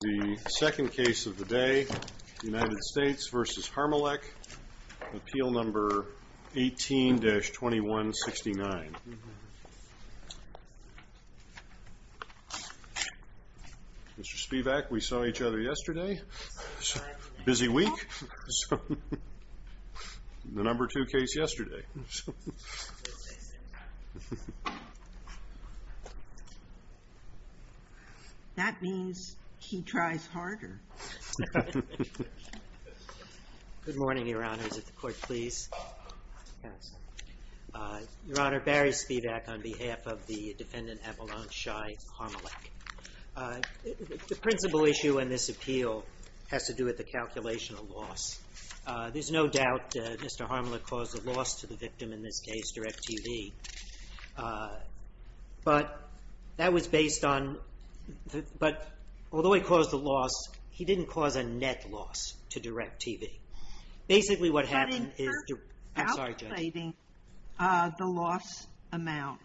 The second case of the day, United States v. Harmelech, Appeal No. 18-2169. Mr. Spivak, we saw each other yesterday. Busy week. The No. 2 case yesterday. That means he tries harder. Good morning, Your Honors. If the Court please. Your Honor, Barry Spivak on behalf of the defendant Avalon Ishaihu Harmelech. The principal issue in this appeal has to do with the calculation of loss. There's no doubt Mr. Harmelech caused a loss to the victim in this case, DirecTV. But that was based on the — but although he caused a loss, he didn't cause a net loss to DirecTV. Basically, what happened is the — I'm sorry, Judge. the loss amount.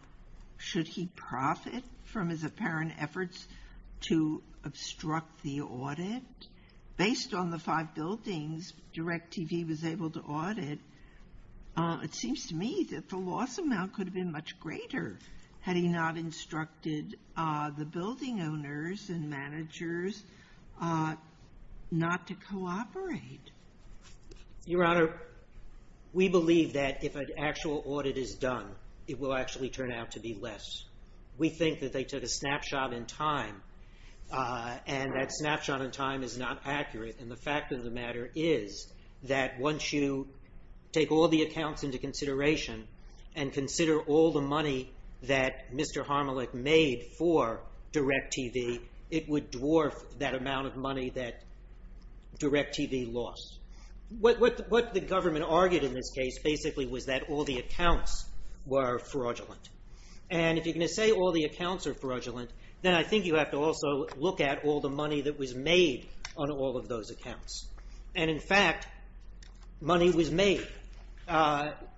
Should he profit from his apparent efforts to obstruct the audit? Based on the five buildings DirecTV was able to audit, it seems to me that the loss amount could have been much greater had he not instructed the building owners and managers not to cooperate. Your Honor, we believe that if an actual audit is done, it will actually turn out to be less. We think that they took a snapshot in time, and that snapshot in time is not accurate. And the fact of the matter is that once you take all the accounts into consideration and consider all the money that Mr. Harmelech made for DirecTV, it would dwarf that amount of money that DirecTV lost. What the government argued in this case basically was that all the accounts were fraudulent. And if you're going to say all the accounts are fraudulent, then I think you have to also look at all the money that was made on all of those accounts. And in fact, money was made.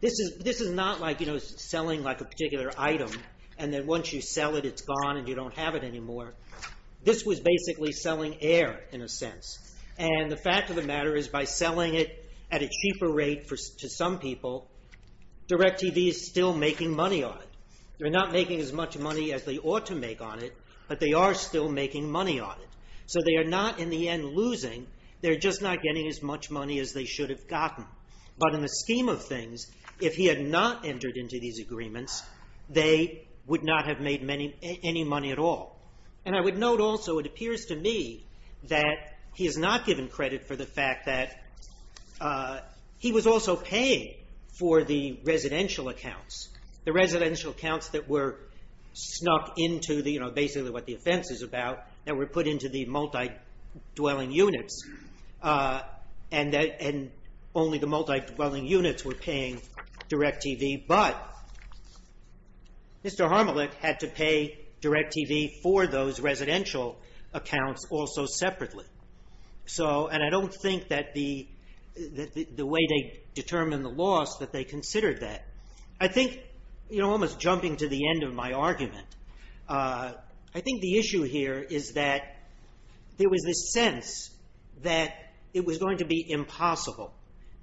This is not like selling a particular item, and then once you sell it, it's gone and you don't have it anymore. This was basically selling air, in a sense. And the fact of the matter is by selling it at a cheaper rate to some people, DirecTV is still making money on it. They're not making as much money as they ought to make on it, but they are still making money on it. So they are not, in the end, losing. They're just not getting as much money as they should have gotten. But in the scheme of things, if he had not entered into these agreements, they would not have made any money at all. And I would note also, it appears to me that he has not given credit for the fact that he was also paying for the residential accounts. The residential accounts that were snuck into basically what the offense is about, that were put into the multi-dwelling units, and only the multi-dwelling units were paying DirecTV. But Mr. Harmelick had to pay DirecTV for those residential accounts also separately. And I don't think that the way they determined the loss, that they considered that. I think, almost jumping to the end of my argument, I think the issue here is that there was this sense that it was going to be impossible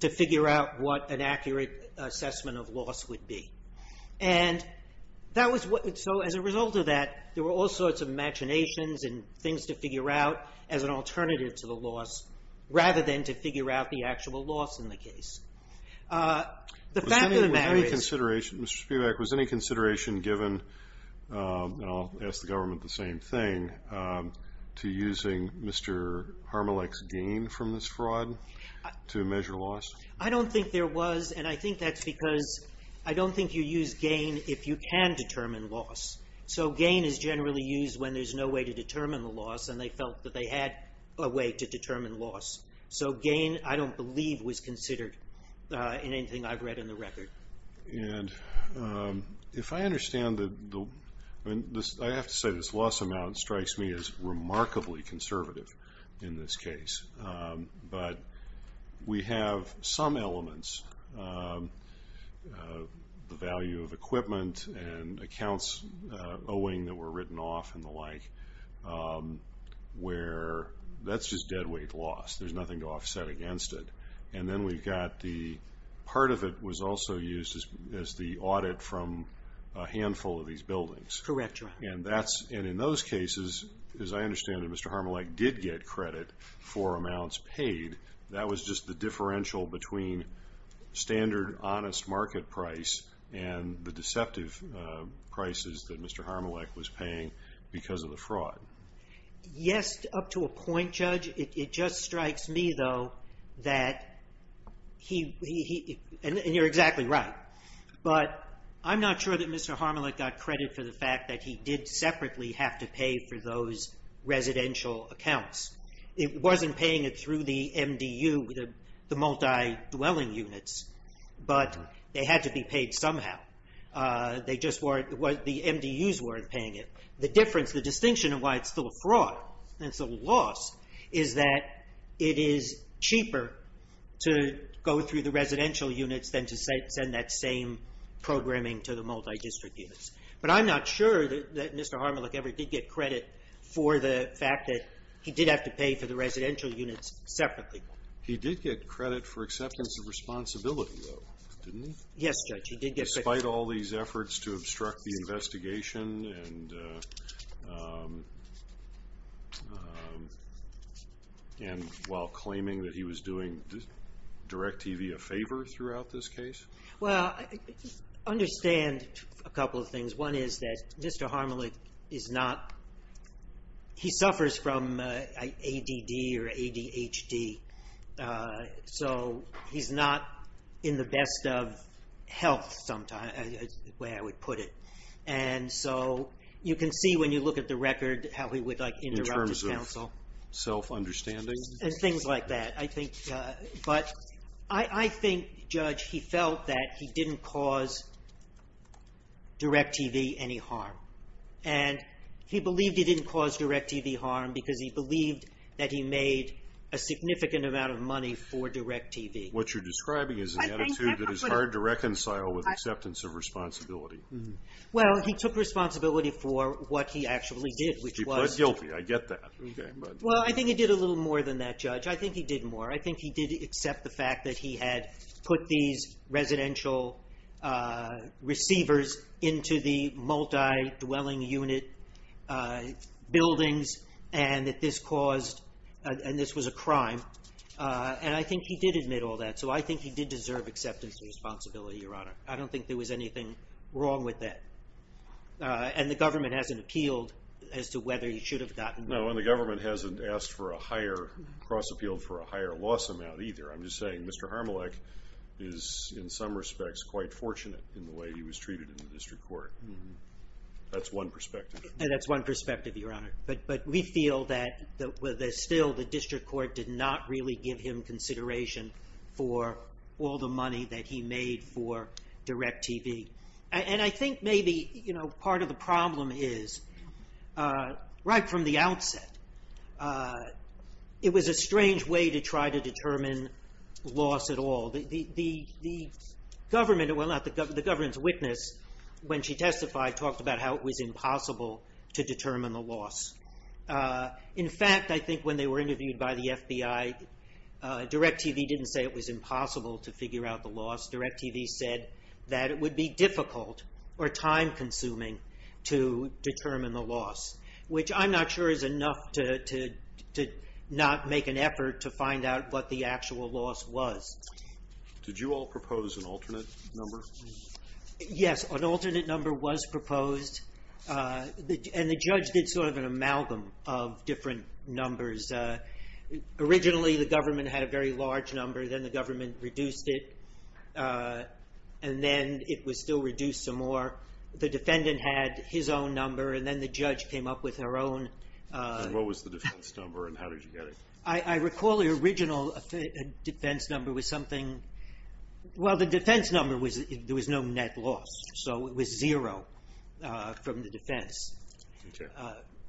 to figure out what an accurate assessment of loss would be. And so as a result of that, there were all sorts of imaginations and things to figure out as an alternative to the loss, rather than to figure out the actual loss in the case. The fact of the matter is... Was any consideration, Mr. Spivak, was any consideration given, and I'll ask the government the same thing, to using Mr. Harmelick's gain from this fraud to measure loss? I don't think there was, and I think that's because I don't think you use gain if you can determine loss. So gain is generally used when there's no way to determine the loss, and they felt that they had a way to determine loss. So gain, I don't believe, was considered in anything I've read in the record. And if I understand the... I have to say this loss amount strikes me as remarkably conservative in this case. But we have some elements, the value of equipment and accounts owing that were written off and the like, where that's just deadweight loss. There's nothing to offset against it. And then we've got the... Part of it was also used as the audit from a handful of these buildings. Correct, Your Honor. And that's... And in those cases, as I understand it, Mr. Harmelick did get credit for amounts paid. That was just the differential between standard, honest market price and the deceptive prices that Mr. Harmelick was paying because of the fraud. Yes, up to a point, Judge. It just strikes me, though, that he... And you're exactly right. But I'm not sure that Mr. Harmelick got credit for the fact that he did separately have to pay for those residential accounts. It wasn't paying it through the MDU, the multi-dwelling units, but they had to be paid somehow. They just weren't... The MDUs weren't paying it. The difference, the distinction of why it's still a fraud and it's a loss is that it is cheaper to go through the residential units than to send that same programming to the multi-district units. But I'm not sure that Mr. Harmelick ever did get credit for the fact that he did have to pay for the residential units separately. He did get credit for acceptance of responsibility, though, didn't he? Yes, Judge. Despite all these efforts to obstruct the investigation and while claiming that he was doing DirecTV a favor throughout this case? Well, I understand a couple of things. One is that Mr. Harmelick is not... He suffers from ADD or ADHD, so he's not in the best of health sometimes, the way I would put it. And so you can see when you look at the record how he would, like, interrupt the counsel. In terms of self-understanding? And things like that. But I think, Judge, he felt that he didn't cause DirecTV any harm. And he believed he didn't cause DirecTV harm because he believed that he made a significant amount of money for DirecTV. What you're describing is an attitude that is hard to reconcile with acceptance of responsibility. Well, he took responsibility for what he actually did, which was... He pled guilty. I get that. Well, I think he did a little more than that, Judge. I think he did more. I think he did accept the fact that he had put these residential receivers into the multi-dwelling unit buildings and that this caused... And this was a crime. And I think he did admit all that. So I think he did deserve acceptance of responsibility, Your Honor. I don't think there was anything wrong with that. And the government hasn't appealed as to whether he should have gotten... No, and the government hasn't asked for a higher...cross-appealed for a higher loss amount either. I'm just saying Mr. Harmelech is, in some respects, quite fortunate in the way he was treated in the district court. That's one perspective. And that's one perspective, Your Honor. But we feel that still the district court did not really give him consideration for all the money that he made for DirecTV. And I think maybe, you know, part of the problem is, right from the outset, it was a strange way to try to determine loss at all. The government, well, not the government, the government's witness, when she testified, talked about how it was impossible to determine the loss. In fact, I think when they were interviewed by the FBI, DirecTV didn't say it was impossible to figure out the loss. DirecTV said that it would be difficult or time-consuming to determine the loss, which I'm not sure is enough to not make an effort to find out what the actual loss was. Did you all propose an alternate number? Yes, an alternate number was proposed, and the judge did sort of an amalgam of different numbers. Originally, the government had a very large number. Then the government reduced it, and then it was still reduced some more. The defendant had his own number, and then the judge came up with her own. And what was the defense number, and how did you get it? I recall the original defense number was something – well, the defense number, there was no net loss, so it was zero from the defense. Okay.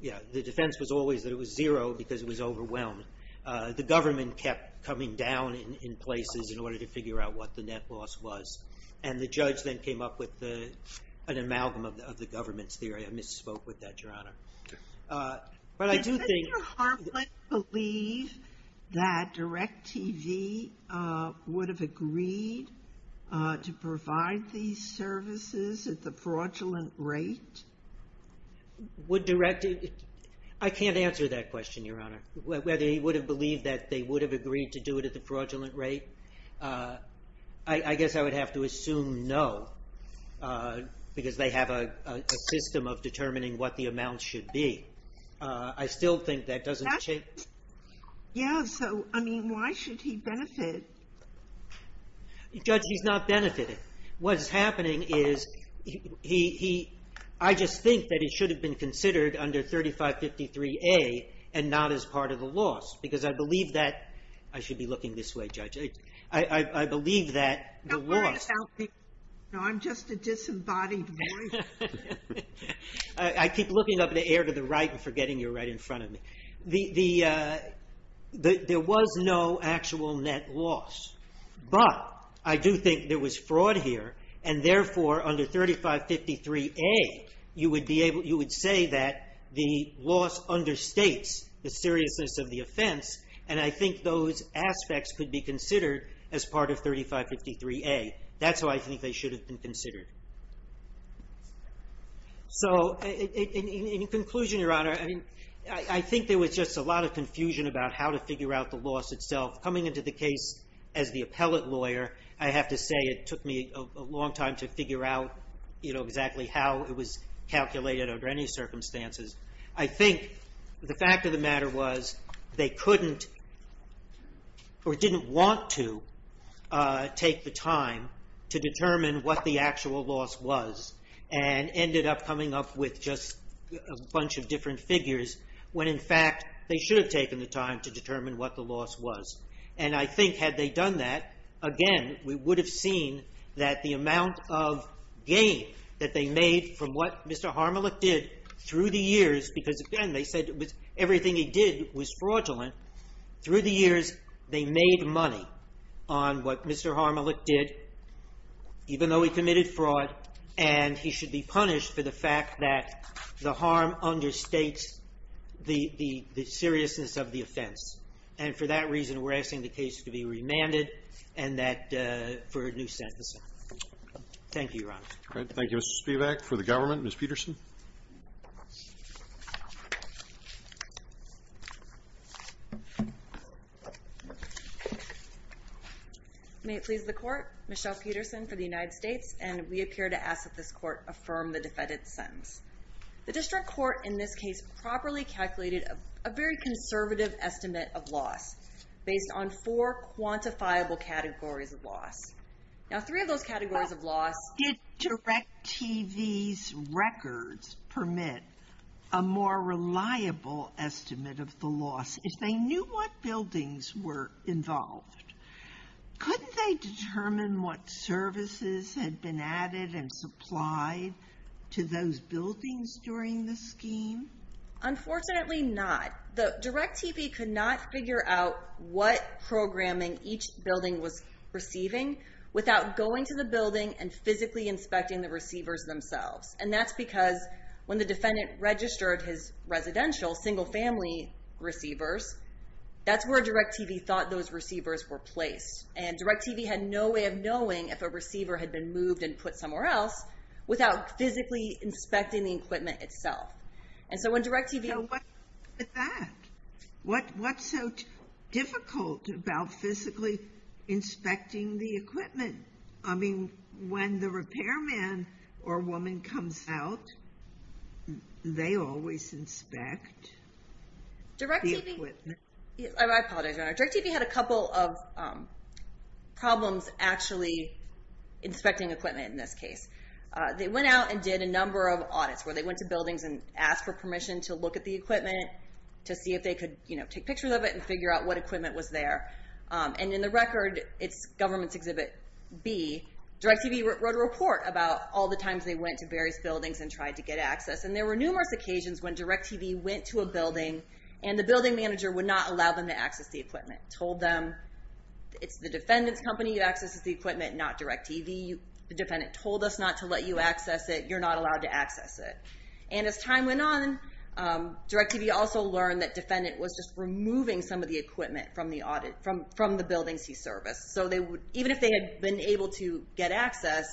Yeah, the defense was always that it was zero because it was overwhelmed. The government kept coming down in places in order to figure out what the net loss was, and the judge then came up with an amalgam of the government's theory. I misspoke with that, Your Honor. Okay. But I do think – Does Mr. Harpling believe that DirecTV would have agreed to provide these services at the fraudulent rate? Would DirecTV – I can't answer that question, Your Honor, whether he would have believed that they would have agreed to do it at the fraudulent rate. I guess I would have to assume no because they have a system of determining what the amount should be. I still think that doesn't – Yeah, so, I mean, why should he benefit? Judge, he's not benefiting. What's happening is he – I just think that it should have been considered under 3553A and not as part of the loss because I believe that – I should be looking this way, Judge. I believe that the loss – Don't worry about me. No, I'm just a disembodied voice. I keep looking up in the air to the right and forgetting you're right in front of me. There was no actual net loss. But I do think there was fraud here and, therefore, under 3553A, you would say that the loss understates the seriousness of the offense and I think those aspects could be considered as part of 3553A. That's why I think they should have been considered. So, in conclusion, Your Honor, I think there was just a lot of confusion about how to figure out the loss itself. Coming into the case as the appellate lawyer, I have to say it took me a long time to figure out exactly how it was calculated under any circumstances. I think the fact of the matter was they couldn't or didn't want to take the time to determine what the actual loss was and ended up coming up with just a bunch of different figures when, in fact, they should have taken the time to determine what the loss was. And I think had they done that, again, we would have seen that the amount of gain that they made from what Mr. Harmelick did through the years – because, again, they said everything he did was fraudulent – through the years, they made money on what Mr. Harmelick did, even though he committed fraud, and he should be punished for the fact that the harm understates the seriousness of the offense. And for that reason, we're asking the case to be remanded for a new sentence. Thank you, Your Honor. Thank you, Mr. Spivak. For the government, Ms. Peterson. May it please the Court, Michelle Peterson for the United States, and we appear to ask that this Court affirm the defendant's sentence. The district court in this case properly calculated a very conservative estimate of loss based on four quantifiable categories of loss. Now, three of those categories of loss – How did DirecTV's records permit a more reliable estimate of the loss? If they knew what buildings were involved, couldn't they determine what services had been added and supplied to those buildings during the scheme? Unfortunately not. DirecTV could not figure out what programming each building was receiving without going to the building and physically inspecting the receivers themselves. And that's because when the defendant registered his residential single-family receivers, that's where DirecTV thought those receivers were placed. And DirecTV had no way of knowing if a receiver had been moved and put somewhere else without physically inspecting the equipment itself. And so when DirecTV – So what's with that? What's so difficult about physically inspecting the equipment? When the repairman or woman comes out, they always inspect the equipment. I apologize, Your Honor. DirecTV had a couple of problems actually inspecting equipment in this case. They went out and did a number of audits where they went to buildings and asked for permission to look at the equipment to see if they could take pictures of it and figure out what equipment was there. And in the record, it's Government Exhibit B, DirecTV wrote a report about all the times they went to various buildings and tried to get access. And there were numerous occasions when DirecTV went to a building and the building manager would not allow them to access the equipment. Told them, it's the defendant's company that accesses the equipment, not DirecTV. The defendant told us not to let you access it. You're not allowed to access it. And as time went on, DirecTV also learned that defendant was just removing some of the equipment from the buildings he serviced. So even if they had been able to get access,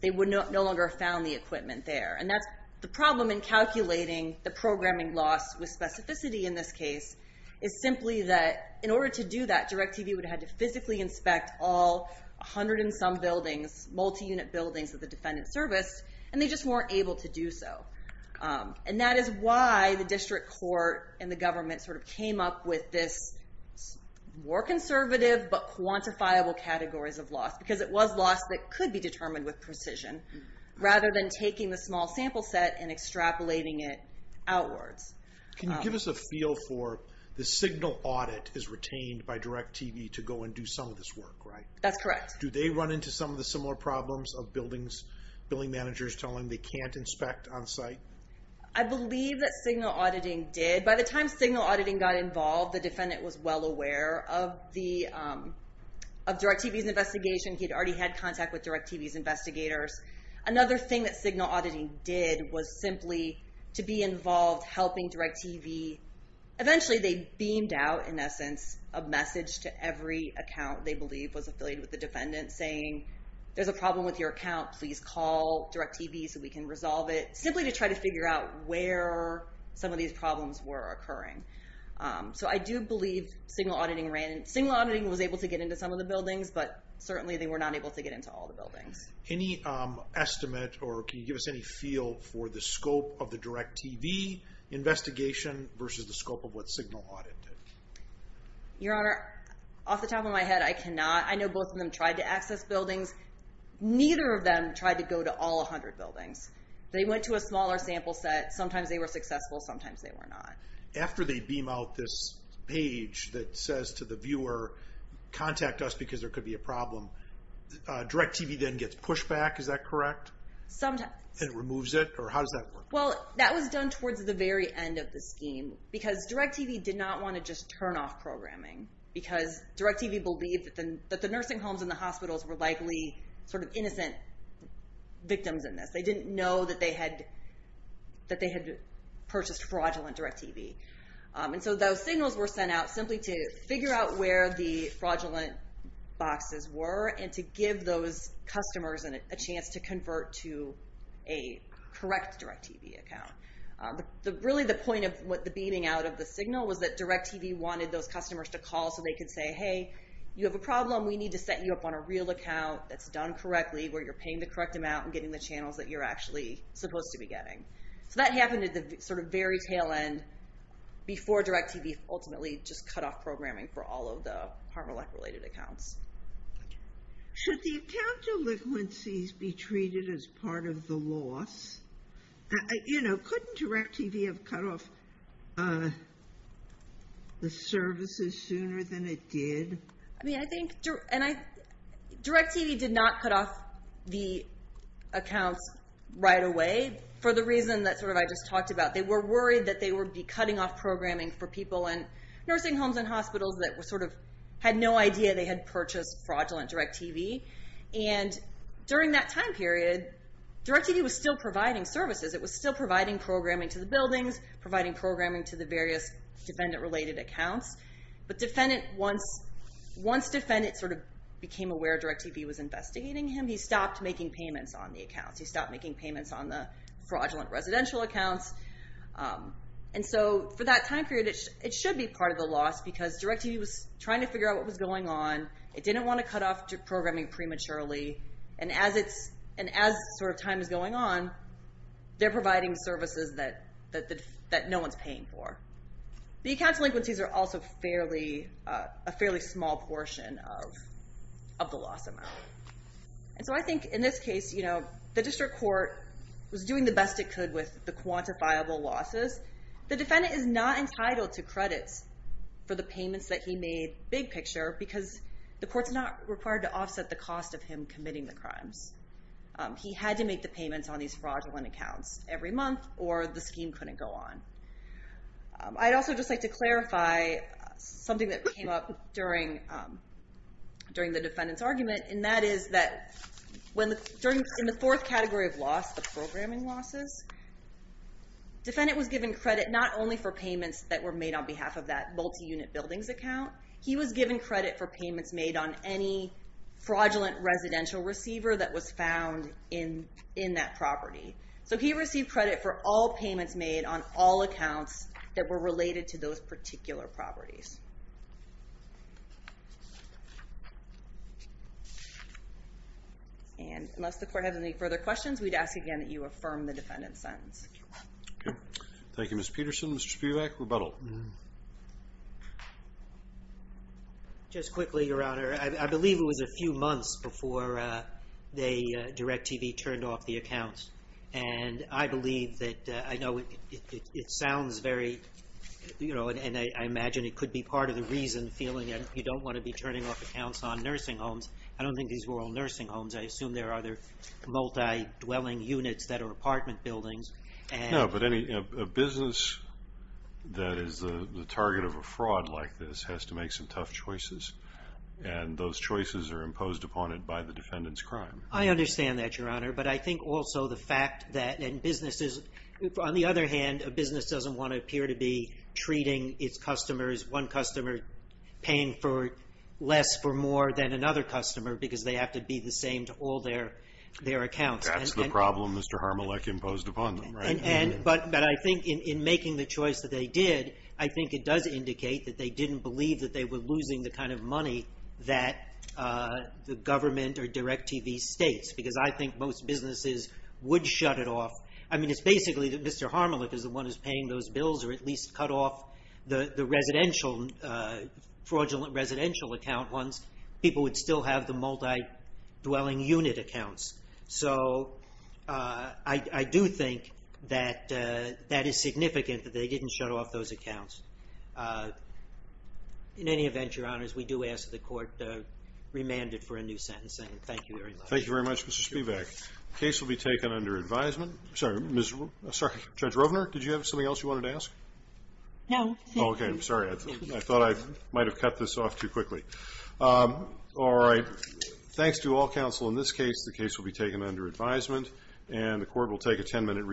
they would no longer have found the equipment there. And that's the problem in calculating the programming loss with specificity in this case is simply that in order to do that, DirecTV would have had to physically inspect all 100 and some buildings, multi-unit buildings of the defendant's service, and they just weren't able to do so. And that is why the district court and the government sort of came up with this more conservative but quantifiable categories of loss because it was loss that could be determined with precision rather than taking the small sample set and extrapolating it outwards. Can you give us a feel for the signal audit is retained by DirecTV to go and do some of this work, right? That's correct. Do they run into some of the similar problems of building managers telling them they can't inspect on-site? I believe that signal auditing did. By the time signal auditing got involved, the defendant was well aware of DirecTV's investigation. He had already had contact with DirecTV's investigators. Another thing that signal auditing did was simply to be involved helping DirecTV. Eventually, they beamed out, in essence, a message to every account they believe was affiliated with the defendant saying, there's a problem with your account. Please call DirecTV so we can resolve it, simply to try to figure out where some of these problems were occurring. So I do believe signal auditing ran. Signal auditing was able to get into some of the buildings, but certainly they were not able to get into all the buildings. Any estimate or can you give us any feel for the scope of the DirecTV investigation versus the scope of what signal audit did? Your Honor, off the top of my head, I cannot. I know both of them tried to access buildings. Neither of them tried to go to all 100 buildings. They went to a smaller sample set. Sometimes they were successful. Sometimes they were not. After they beam out this page that says to the viewer, contact us because there could be a problem, DirecTV then gets pushback, is that correct? Sometimes. And removes it? Or how does that work? Well, that was done towards the very end of the scheme because DirecTV did not want to just turn off programming because DirecTV believed that the nursing homes and the hospitals were likely sort of innocent victims in this. They didn't know that they had purchased fraudulent DirecTV. And so those signals were sent out simply to figure out where the fraudulent boxes were and to give those customers a chance to convert to a correct DirecTV account. But really the point of the beaming out of the signal was that it was a call so they could say, hey, you have a problem. We need to set you up on a real account that's done correctly where you're paying the correct amount and getting the channels that you're actually supposed to be getting. So that happened at the sort of very tail end before DirecTV ultimately just cut off programming for all of the harm or lack related accounts. Should the account delinquencies be treated as part of the loss? Couldn't DirecTV have cut off the services sooner than it did? I mean, I think DirecTV did not cut off the accounts right away for the reason that sort of I just talked about. They were worried that they would be cutting off programming for people in nursing homes and hospitals that sort of had no idea they had purchased fraudulent DirecTV. And during that time period, DirecTV was still providing services. It was still providing programming to the buildings, providing programming to the various defendant-related accounts. But once defendants sort of became aware DirecTV was investigating him, he stopped making payments on the accounts. He stopped making payments on the fraudulent residential accounts. And so for that time period, it should be part of the loss because DirecTV was trying to figure out what was going on. It didn't want to cut off programming prematurely. And as sort of time is going on, they're providing services that no one's paying for. The account delinquencies are also a fairly small portion of the loss amount. And so I think in this case, the district court was doing the best it could with the quantifiable losses. The defendant is not entitled to credits for the payments that he made, which is a big picture because the court's not required to offset the cost of him committing the crimes. He had to make the payments on these fraudulent accounts every month or the scheme couldn't go on. I'd also just like to clarify something that came up during the defendant's argument, and that is that in the fourth category of loss, the programming losses, defendant was given credit not only for payments that were made on behalf of that multi-unit buildings account. He was given credit for payments made on any fraudulent residential receiver that was found in that property. So he received credit for all payments made on all accounts that were related to those particular properties. And unless the court has any further questions, we'd ask again that you affirm the defendant's sentence. Thank you, Ms. Peterson. Mr. Spivak, rebuttal. Just quickly, Your Honor, I believe it was a few months before they, DirecTV, turned off the accounts. And I believe that, I know it sounds very, you know, and I imagine it could be part of the reason feeling that you don't want to be turning off accounts on nursing homes. I don't think these were all nursing homes. I assume there are other multi-dwelling units that are apartment buildings. No, but any business that is the target of a fraud like this has to make some tough choices. And those choices are imposed upon it by the defendant's crime. I understand that, Your Honor. But I think also the fact that in businesses, on the other hand, a business doesn't want to appear to be treating its customers, one customer paying for less for more than another customer because they have to be the same to all their accounts. That's the problem Mr. Harmelik imposed upon them, right? But I think in making the choice that they did, I think it does indicate that they didn't believe that they were losing the kind of money that the government or DirecTV states because I think most businesses would shut it off. I mean, it's basically that Mr. Harmelik is the one who's paying those bills or at least cut off the residential, fraudulent residential account ones. People would still have the multi-dwelling unit accounts. So I do think that that is significant that they didn't shut off those accounts. In any event, Your Honors, we do ask that the court remand it for a new sentence. Thank you very much. Thank you very much, Mr. Spivak. The case will be taken under advisement. Sorry, Judge Rovner, did you have something else you wanted to ask? No. Okay, I'm sorry. I thought I might have cut this off too quickly. All right. Thanks to all counsel in this case. The case will be taken under advisement, and the court will take a ten-minute recess.